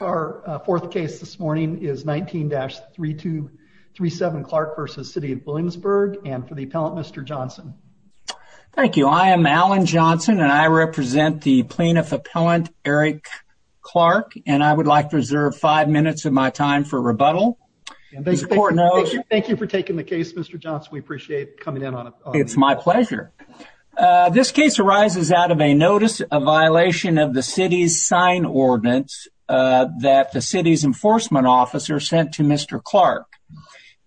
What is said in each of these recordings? Our fourth case this morning is 19-3237 Clark v. City of Williamsburg and for the appellant Mr. Johnson. Thank you I am Alan Johnson and I represent the plaintiff appellant Eric Clark and I would like to reserve five minutes of my time for rebuttal. Thank you for taking the case Mr. Johnson we appreciate coming in on it. It's my pleasure. This case arises out of a notice of violation of the city's sign ordinance that the city's enforcement officer sent to Mr. Clark.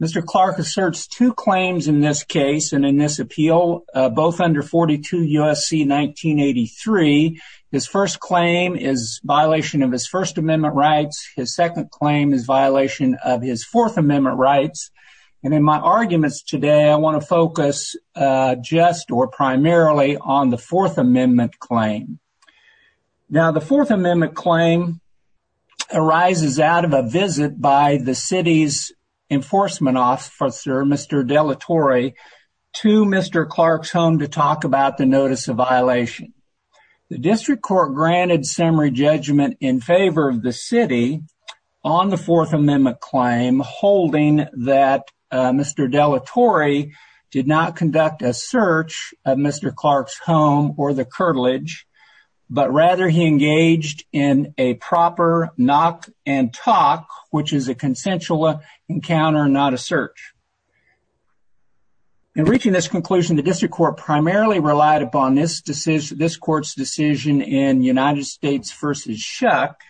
Mr. Clark asserts two claims in this case and in this appeal both under 42 USC 1983. His first claim is violation of his First Amendment rights. His second claim is violation of his Fourth Amendment rights and in my arguments today I want to focus just or primarily on the Fourth Amendment claim. Now the Fourth Amendment claim arises out of a visit by the city's enforcement officer Mr. Dellatore to Mr. Clark's home to talk about the notice of violation. The district court granted summary judgment in favor of the city on the Fourth Amendment claim holding that Mr. Dellatore did not conduct a search of Mr. Clark's home or the curtilage but rather he engaged in a proper knock and talk which is a consensual encounter not a search. In reaching this conclusion the district court primarily relied upon this court's decision in United States v. Shuck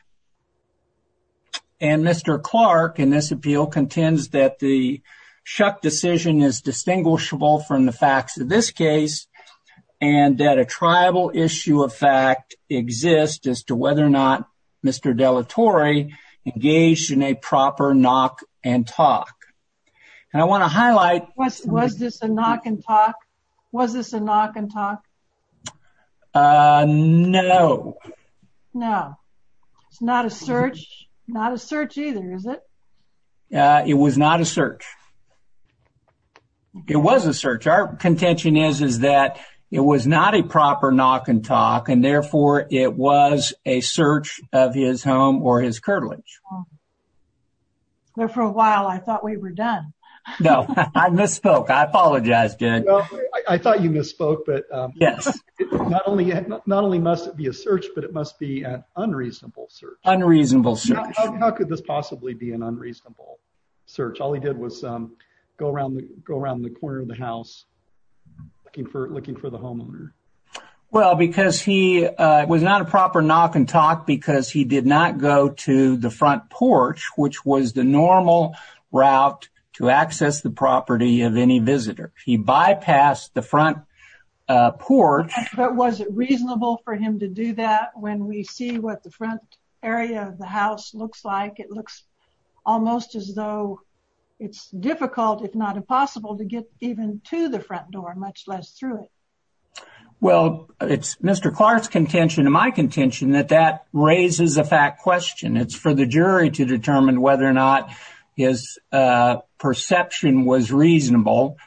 and Mr. Clark in the Shuck decision is distinguishable from the facts of this case and that a tribal issue of fact exists as to whether or not Mr. Dellatore engaged in a proper knock and talk. And I want to highlight... Was this a knock and talk? Was this a knock and talk? No. No it's not a search not a search either is it? It was not a search. It was a search. Our contention is is that it was not a proper knock and talk and therefore it was a search of his home or his curtilage. Well for a while I thought we were done. No I misspoke I apologize Jen. I thought you misspoke but yes not only not only must it be a search but it must be an unreasonable search. Unreasonable search. How could this possibly be an unreasonable search? All he did was go around go around the corner of the house looking for looking for the homeowner. Well because he was not a proper knock and talk because he did not go to the front porch which was the normal route to access the property of any visitor. He bypassed the front porch but was it reasonable for him to do that when we see what the front area of the as though it's difficult if not impossible to get even to the front door much less through it. Well it's Mr. Clark's contention and my contention that that raises a fact question. It's for the jury to determine whether or not his perception was reasonable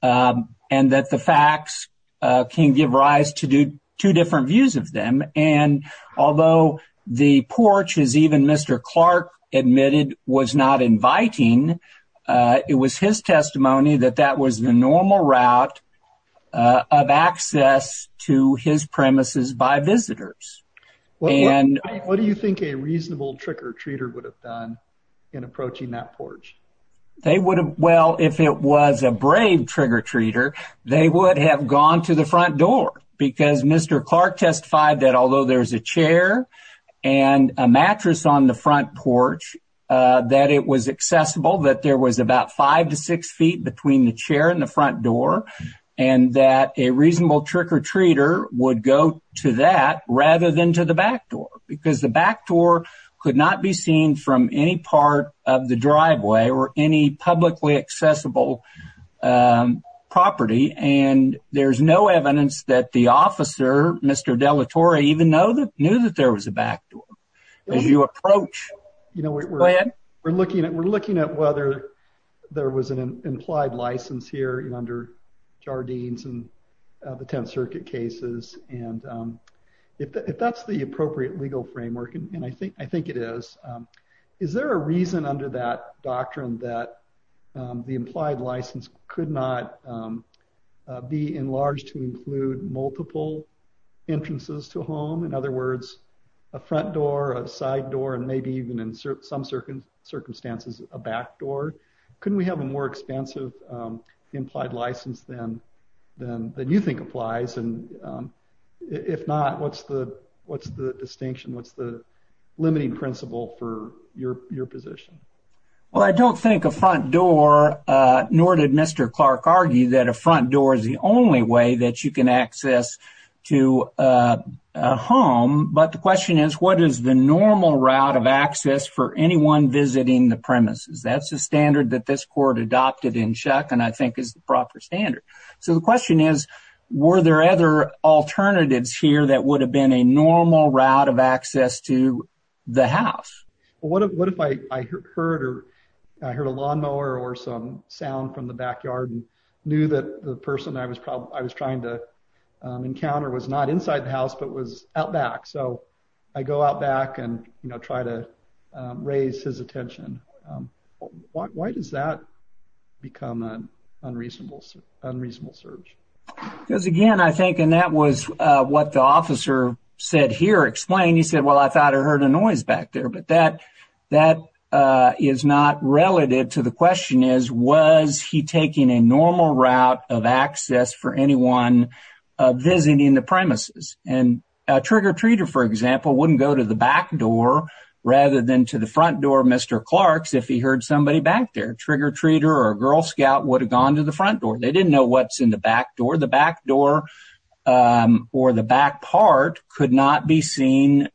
and that the facts can give rise to do two different views of them and although the porch is even Mr. Clark admitted was not inviting it was his testimony that that was the normal route of access to his premises by visitors. What do you think a reasonable trick-or-treater would have done in approaching that porch? They would have well if it was a brave trigger-treater they would have gone to the front door because Mr. Clark testified that although there's a chair and a mattress on the front porch that it was accessible that there was about five to six feet between the chair and the front door and that a reasonable trick-or-treater would go to that rather than to the back door because the back door could not be seen from any part of the driveway or any publicly accessible property and there's no evidence that the officer Mr. Dellatore even know that knew that there was a back door. We're looking at whether there was an implied license here under Jardines and the Tenth Circuit cases and if that's the appropriate legal framework and I think I think it is is there a reason under that doctrine that the implied license could not be enlarged to include multiple entrances to a home in other words a front door a side door and maybe even in some circumstances a back door. Couldn't we have a more expansive implied license than you think applies and if not what's the what's the distinction what's the limiting principle for your position? Well I don't think a front door nor did Mr. Clark argue that a front door is the access to a home but the question is what is the normal route of access for anyone visiting the premises? That's a standard that this court adopted in Shuck and I think is the proper standard. So the question is were there other alternatives here that would have been a normal route of access to the house? What if I heard a lawnmower or some sound from the backyard and I knew that the person I was probably I was trying to encounter was not inside the house but was out back so I go out back and you know try to raise his attention. Why does that become an unreasonable search? Because again I think and that was what the officer said here explained he said well I thought I heard a noise back there but that that is not relative to the question is was he taking a normal route of access for anyone visiting the premises and a trigger-treater for example wouldn't go to the back door rather than to the front door of Mr. Clark's if he heard somebody back there trigger-treater or a Girl Scout would have gone to the front door they didn't know what's in the back door the back door or the back part could not be seen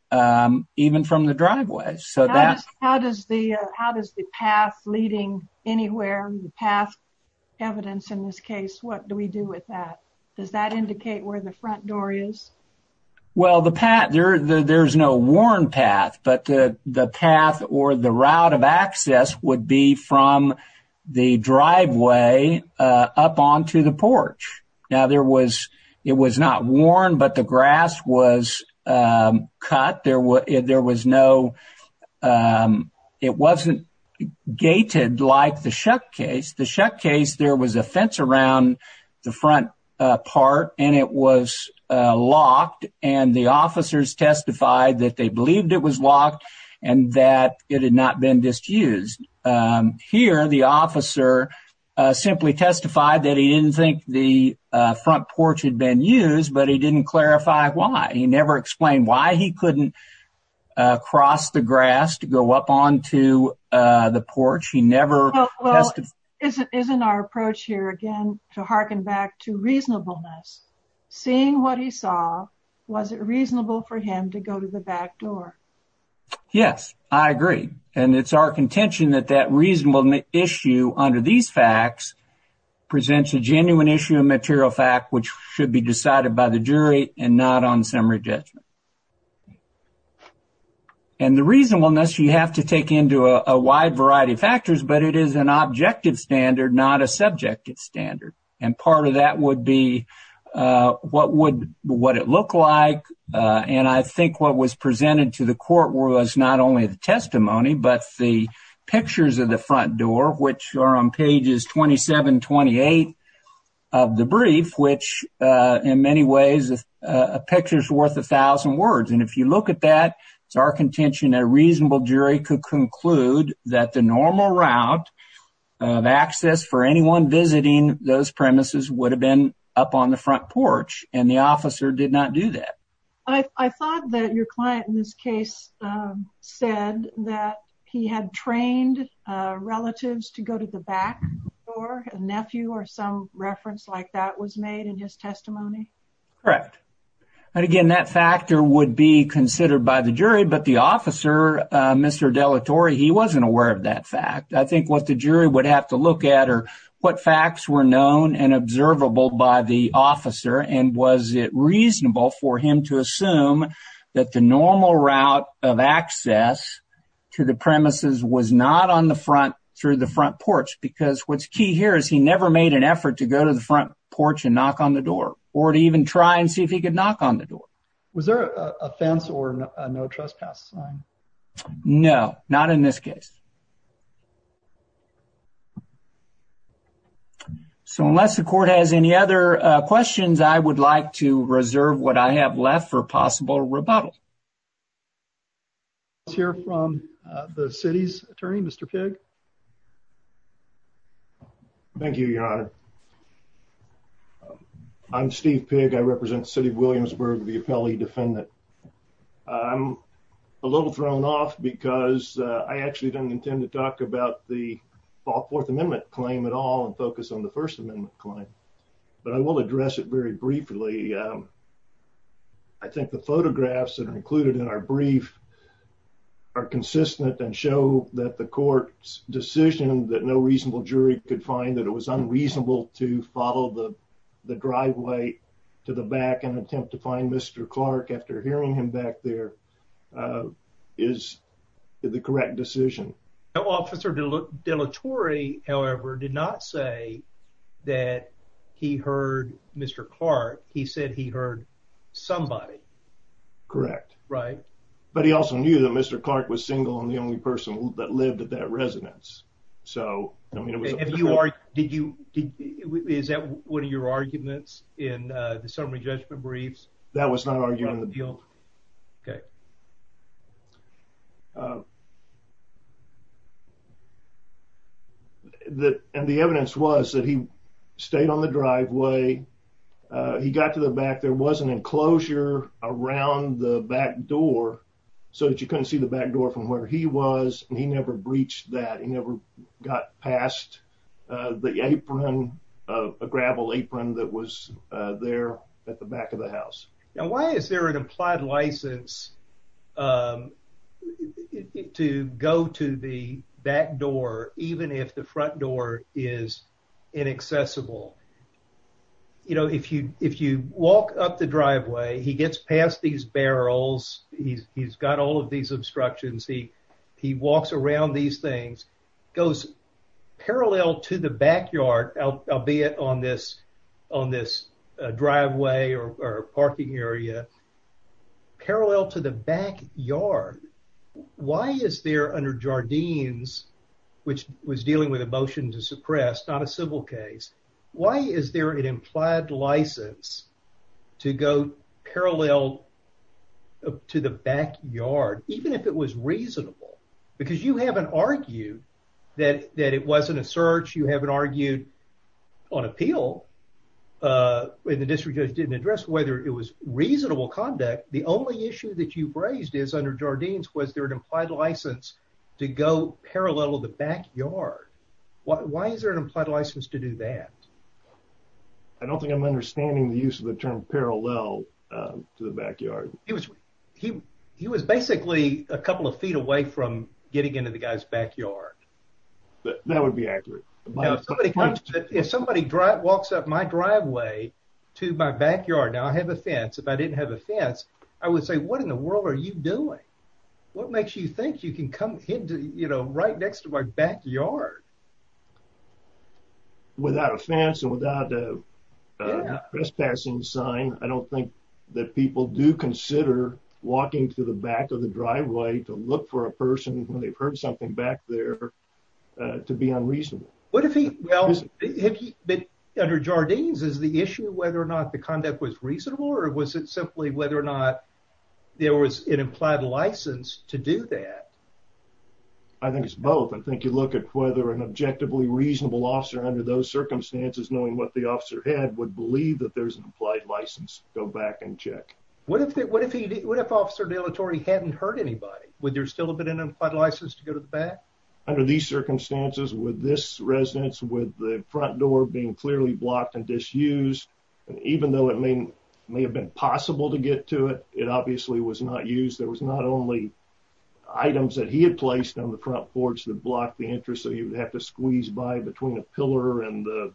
even from the driveway so that's how does the how does the path leading anywhere the path evidence in this case what do we do with that does that indicate where the front door is well the pat there there's no worn path but the path or the route of access would be from the driveway up onto the porch now there was it was not worn but the grass was cut there were there was no it wasn't gated like the shuck case the shuck case there was a fence around the front part and it was locked and the officers testified that they believed it was locked and that it had not been disused here the officer simply testified that he didn't think the front porch had been used but he didn't clarify why he never explained why he couldn't cross the grass to go up onto the porch he never is it isn't our approach here again to harken back to reasonableness seeing what he saw was it reasonable for him to go to the back door yes I agree and it's our contention that that reasonable issue under these facts presents a genuine issue of material fact which should be decided by the jury and not on summary judgment and the reasonableness you have to take into a wide variety of factors but it is an objective standard not a subjective standard and part of that would be what would what it look like and I think what was presented to the court was not only the testimony but the pictures of the 2728 of the brief which in many ways a picture is worth a thousand words and if you look at that it's our contention a reasonable jury could conclude that the normal route of access for anyone visiting those premises would have been up on the front porch and the officer did not do that I thought that your nephew or some reference like that was made in his testimony correct and again that factor would be considered by the jury but the officer mr. delatory he wasn't aware of that fact I think what the jury would have to look at or what facts were known and observable by the officer and was it reasonable for him to assume that the normal route of access to the premises was not on the front through the front porch because what's key here is he never made an effort to go to the front porch and knock on the door or to even try and see if he could knock on the door was there a fence or no trespass sign no not in this case so unless the court has any other questions I would like to reserve what I have left for a possible rebuttal let's hear from the city's attorney mr. pig thank you your honor I'm Steve pig I represent the city of Williamsburg the appellee defendant I'm a little thrown off because I actually don't intend to talk about the fourth amendment claim at all and focus on the First Amendment claim but I will address it very briefly I think the photographs that are included in our brief are consistent and show that the court's decision that no reasonable jury could find that it was unreasonable to follow the driveway to the back and attempt to find mr. Clark after hearing him back there is the he heard mr. Clark he said he heard somebody correct right but he also knew that mr. Clark was single and the only person that lived at that residence so if you are did you is that one of your arguments in the summary judgment briefs that was not arguing the deal okay that and the evidence was that he stayed on the driveway he got to the back there was an enclosure around the back door so that you couldn't see the back door from where he was and he never breached that he never got past the apron of a gravel apron that was there at the back of the house now why is there an implied license to go to the back door even if the front door is inaccessible you know if you if you walk up the driveway he gets past these barrels he's got all of these obstructions he he walks around these things goes parallel to the backyard why is there under Jardines which was dealing with a motion to suppress not a civil case why is there an implied license to go parallel to the backyard even if it was reasonable because you haven't argued that that it wasn't a search you haven't argued on appeal when the district judge didn't whether it was reasonable conduct the only issue that you've raised is under Jardines was there an implied license to go parallel to the backyard what why is there an implied license to do that I don't think I'm understanding the use of the term parallel to the backyard he was he he was basically a couple of feet away from getting into the guy's backyard that would be accurate if somebody drive walks up my driveway to my backyard now I have a fence if I didn't have a fence I would say what in the world are you doing what makes you think you can come into you know right next to my backyard without a fence and without a trespassing sign I don't think that people do consider walking to the back of the driveway to look for a person when they've heard something back there to be unreasonable what if he well under Jardines is the issue whether or not the conduct was reasonable or was it simply whether or not there was an implied license to do that I think it's both I think you look at whether an objectively reasonable officer under those circumstances knowing what the officer had would believe that there's an implied license go back and check what if it what if he did what if officer de la Torre he hadn't hurt anybody would there still have been an implied license to go to the back under these circumstances with this residence with the front door being clearly blocked and disused and even though it may may have been possible to get to it it obviously was not used there was not only items that he had placed on the front porch that blocked the interest so you would have to squeeze by between a pillar and the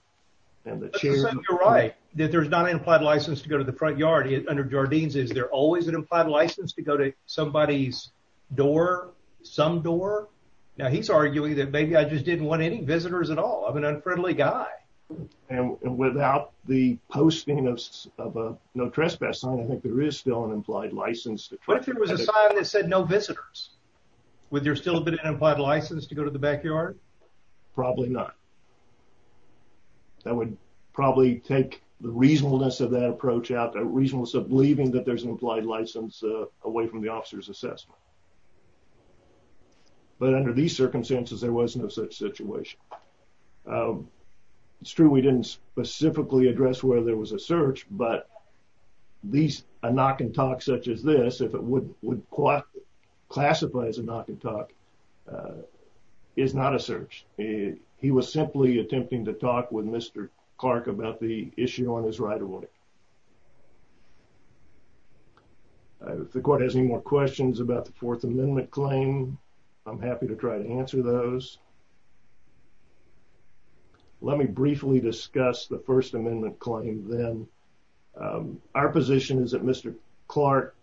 and the chair you're right that there's not an implied license to go to the front yard under Jardines is there always an implied license to go to somebody's door some door now he's arguing that maybe I just didn't want any visitors at all I'm an unfriendly guy and without the posting of a no trespass sign I think there is still an implied license but there was a sign that said no visitors with your still a bit of an implied license to go to the backyard probably not that would probably take the reasonableness of that out that reason was of believing that there's an implied license away from the officer's assessment but under these circumstances there was no such situation it's true we didn't specifically address where there was a search but these a knock-and-talk such as this if it would would qualify as a knock-and-talk is not a search he was simply attempting to talk with mr. Clark about the issue on his right away the court has any more questions about the Fourth Amendment claim I'm happy to try to answer those let me briefly discuss the First Amendment claim then our position is that mr. Clark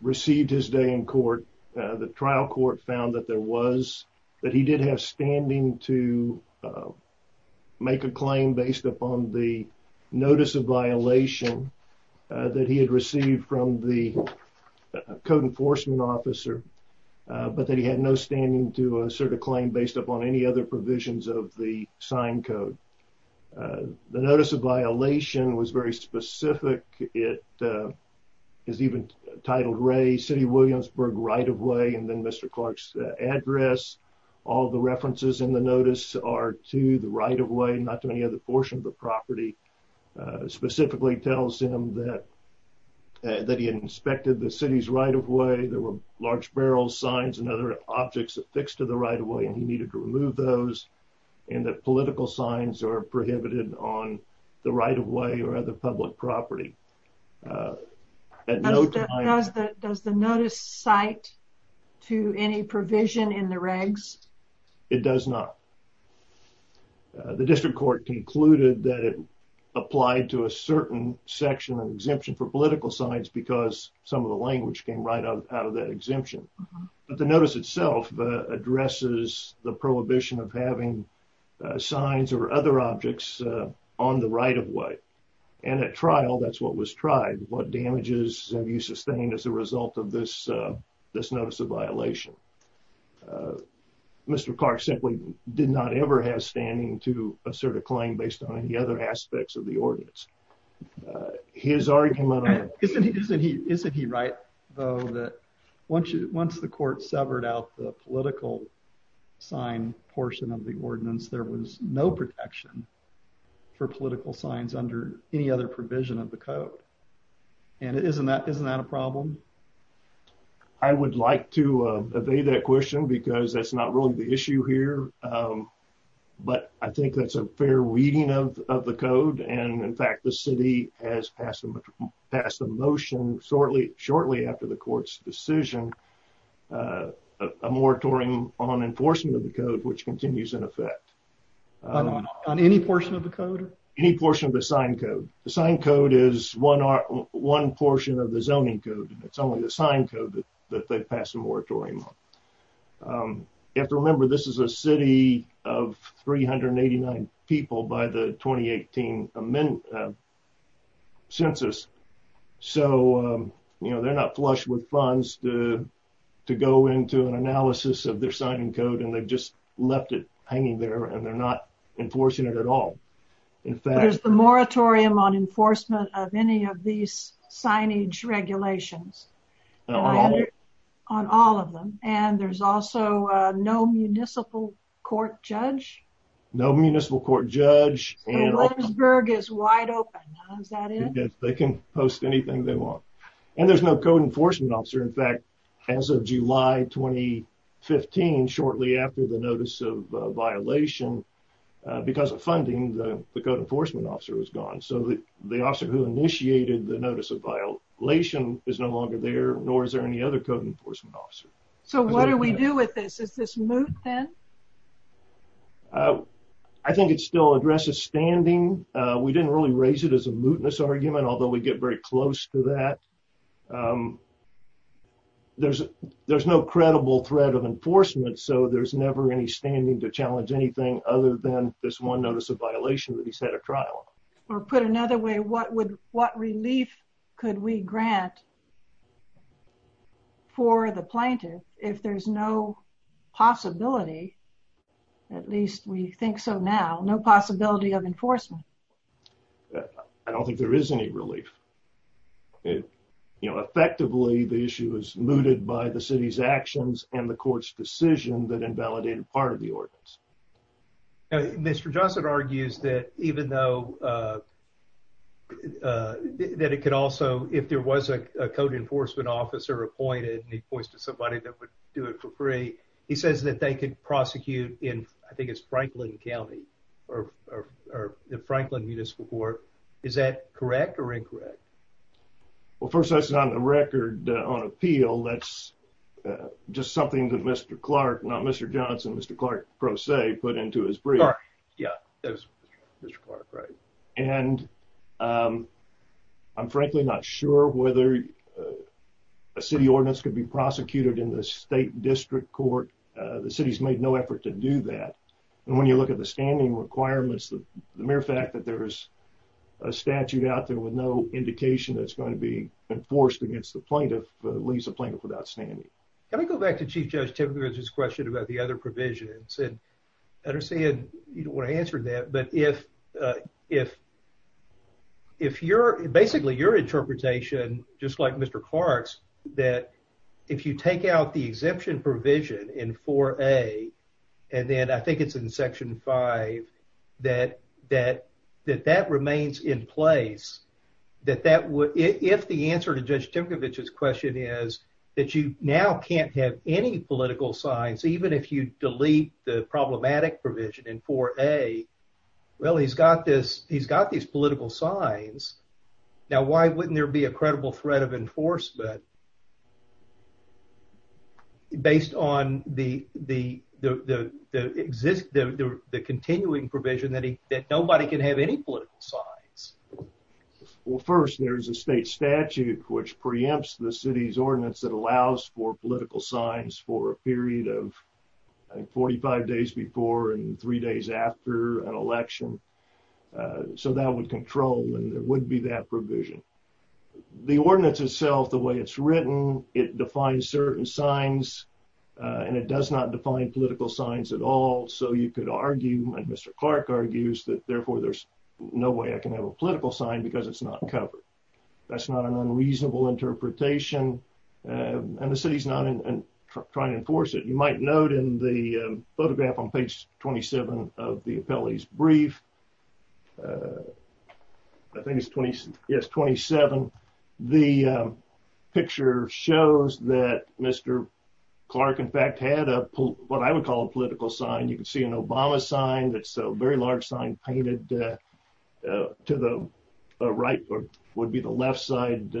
received his day in court the trial court found that there was that he did have standing to make a claim based upon the notice of violation that he had received from the code enforcement officer but that he had no standing to assert a claim based upon any other provisions of the sign code the notice of violation was very specific it is even titled Ray city Williamsburg right-of-way and then mr. Clark's address all the references in the notice are to the right-of-way not to any other portion of the property specifically tells him that that he inspected the city's right-of-way there were large barrels signs and other objects affixed to the right-of-way and he needed to remove those and the political signs are prohibited on the right-of-way or other public property does the notice cite to any provision in the regs it does not the district court concluded that it applied to a certain section and exemption for political signs because some of the language came right out of that exemption but the notice itself addresses the prohibition of having signs or other objects on the right-of-way and at trial that's what was tried what damages have you sustained as a result of this this notice of violation mr. Clark simply did not ever have standing to assert a claim based on any other aspects of the ordinance his argument isn't he right though that once you once the court severed out the political sign portion of the ordinance there was no protection for political signs under any other provision of the code and it isn't that isn't that a problem I would like to obey that question because that's not really the issue here but I think that's a fair reading of the code and in fact the city has passed a motion shortly shortly after the court's decision a moratorium on enforcement of the code which continues in effect on any portion of the code any portion of the sign code the sign code is one are one portion of the zoning code it's only the sign code that they've passed a moratorium on you have to remember this is a city of 389 people by the 2018 amendment census so you know they're not flush with funds to to go into an analysis of their signing code and they've just left it hanging there and they're not enforcing it at all in fact there's the moratorium on enforcement of any of these signage regulations on all of them and there's also no municipal court judge no municipal court judge they can post anything they want and there's no code enforcement officer in fact as of July 2015 shortly after the because of funding the code enforcement officer was gone so the officer who initiated the notice of violation is no longer there nor is there any other code enforcement officer so what do we do with this is this move then I think it still addresses standing we didn't really raise it as a mootness argument although we get very close to that there's there's no credible threat of this one notice of violation that he's had a trial or put another way what would what relief could we grant for the plaintiff if there's no possibility at least we think so now no possibility of enforcement I don't think there is any relief it you know effectively the issue is mooted by the city's actions and the mr. Johnson argues that even though that it could also if there was a code enforcement officer appointed and he points to somebody that would do it for free he says that they could prosecute in I think it's Franklin County or the Franklin Municipal Court is that correct or incorrect well first that's not a record on appeal that's just something that mr. Clark not mr. Johnson mr. Clark pro se put into his brief yeah right and I'm frankly not sure whether a city ordinance could be prosecuted in the state district court the city's made no effort to do that and when you look at the standing requirements the mere fact that there is a statute out there with no indication that's going to be enforced against the plaintiff leaves a plaintiff without standing can I go back to chief judge typically just question about the other provisions and I don't see it you don't want to answer that but if if if you're basically your interpretation just like mr. Clark's that if you take out the exemption provision in for a and then I think it's in section 5 that that that that remains in place that that would if the answer to judge Tim Kovacs question is that you now can't have any political science even if you delete the problematic provision in for a well he's got this he's got these political signs now why wouldn't there be a credible threat of enforcement based on the the the exist the continuing provision that he that nobody can have any political signs well first there's a state statute which preempts the city's ordinance that allows for political signs for a period of 45 days before and three days after an election so that would control and there would be that provision the ordinance itself the way it's written it defines certain signs and it does not define political signs at all so you could argue and mr. Clark argues that therefore there's no way I can have a political sign because it's not covered that's not an unreasonable interpretation and the city's not in trying to enforce it you might note in the photograph on page 27 of the appellee's brief I think it's 20 yes 27 the picture shows that mr. Clark in fact had a pull what I would call a political sign you can see an Obama sign that's a very large sign painted to the right or would be the left side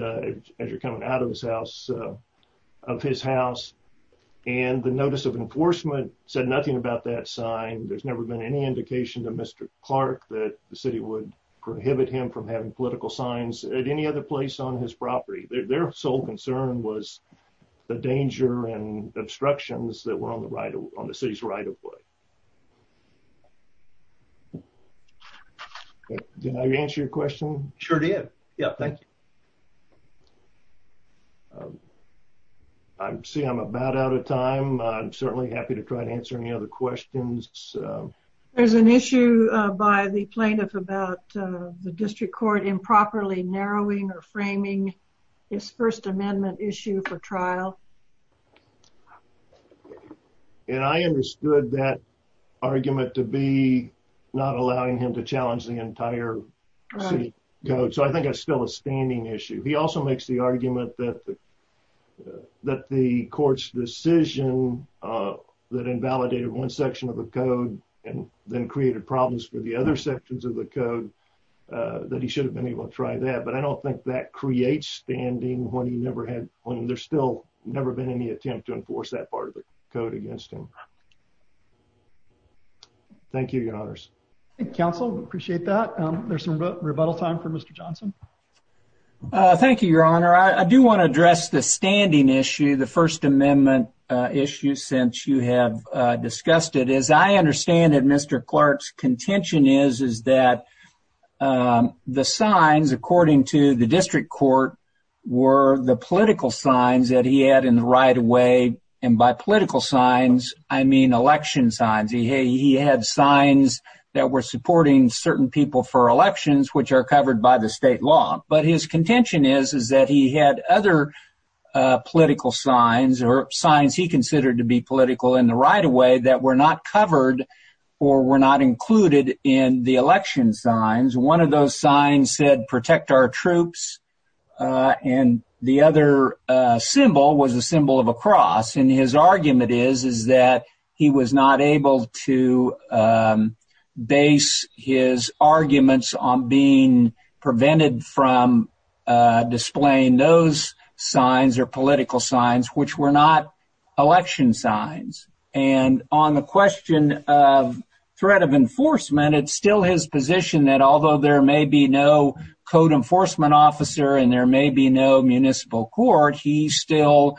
as you're coming out of his house of his house and the notice of enforcement said nothing about that sign there's never been any indication to mr. Clark that the city would prohibit him from having political signs at any other place on his property their sole concern was the danger and obstructions that were on the right on the city's right-of-way did I answer your question sure do you yeah I'm see I'm about out of time I'm certainly happy to try to answer any other questions there's an issue by the plaintiff about the district court improperly narrowing or framing this First Amendment issue for trial and I understood that argument to be not allowing him to challenge the entire coach so I think it's still a standing issue he also makes the argument that that the court's decision that invalidated one section of the code and then created problems for the other sections of the code that he should have been able to try that but I don't think that creates standing when he never had when there's still never been any attempt to enforce that part of the code against him thank you your honors council appreciate that there's some rebuttal time for mr. Johnson thank you your honor I do want to address the standing issue the First Amendment issue since you have discussed it as I understand that mr. Clark's contention is is that the signs according to the district court were the political signs that he had in the right-of-way and by political signs I mean election signs he had signs that were supporting certain people for elections which are covered by the state law but his contention is is that he had other political signs or signs he considered to be political in the right-of-way that were not covered or were not included in the election signs one of those signs said protect our troops and the other symbol was a is is that he was not able to base his arguments on being prevented from displaying those signs or political signs which were not election signs and on the question of threat of enforcement it's still his position that although there may be no code enforcement officer and there may be no municipal court he still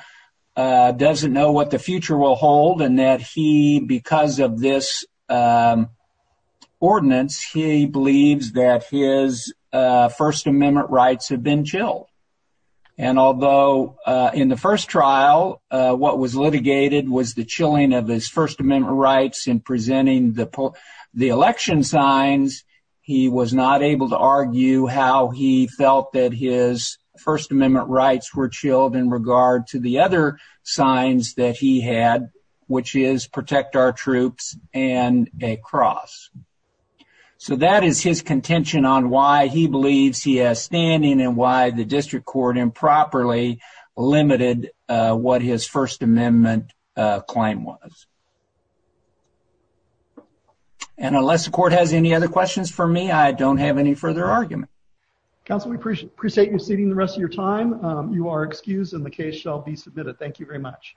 doesn't know what the future will hold and that he because of this ordinance he believes that his First Amendment rights have been chilled and although in the first trial what was litigated was the chilling of his First Amendment rights in presenting the poll the election signs he was not able to to the other signs that he had which is protect our troops and a cross so that is his contention on why he believes he has standing and why the district court improperly limited what his First Amendment claim was and unless the court has any other questions for me I don't have any further argument council we appreciate appreciate you sitting the rest of your time you are excused in case shall be submitted thank you very much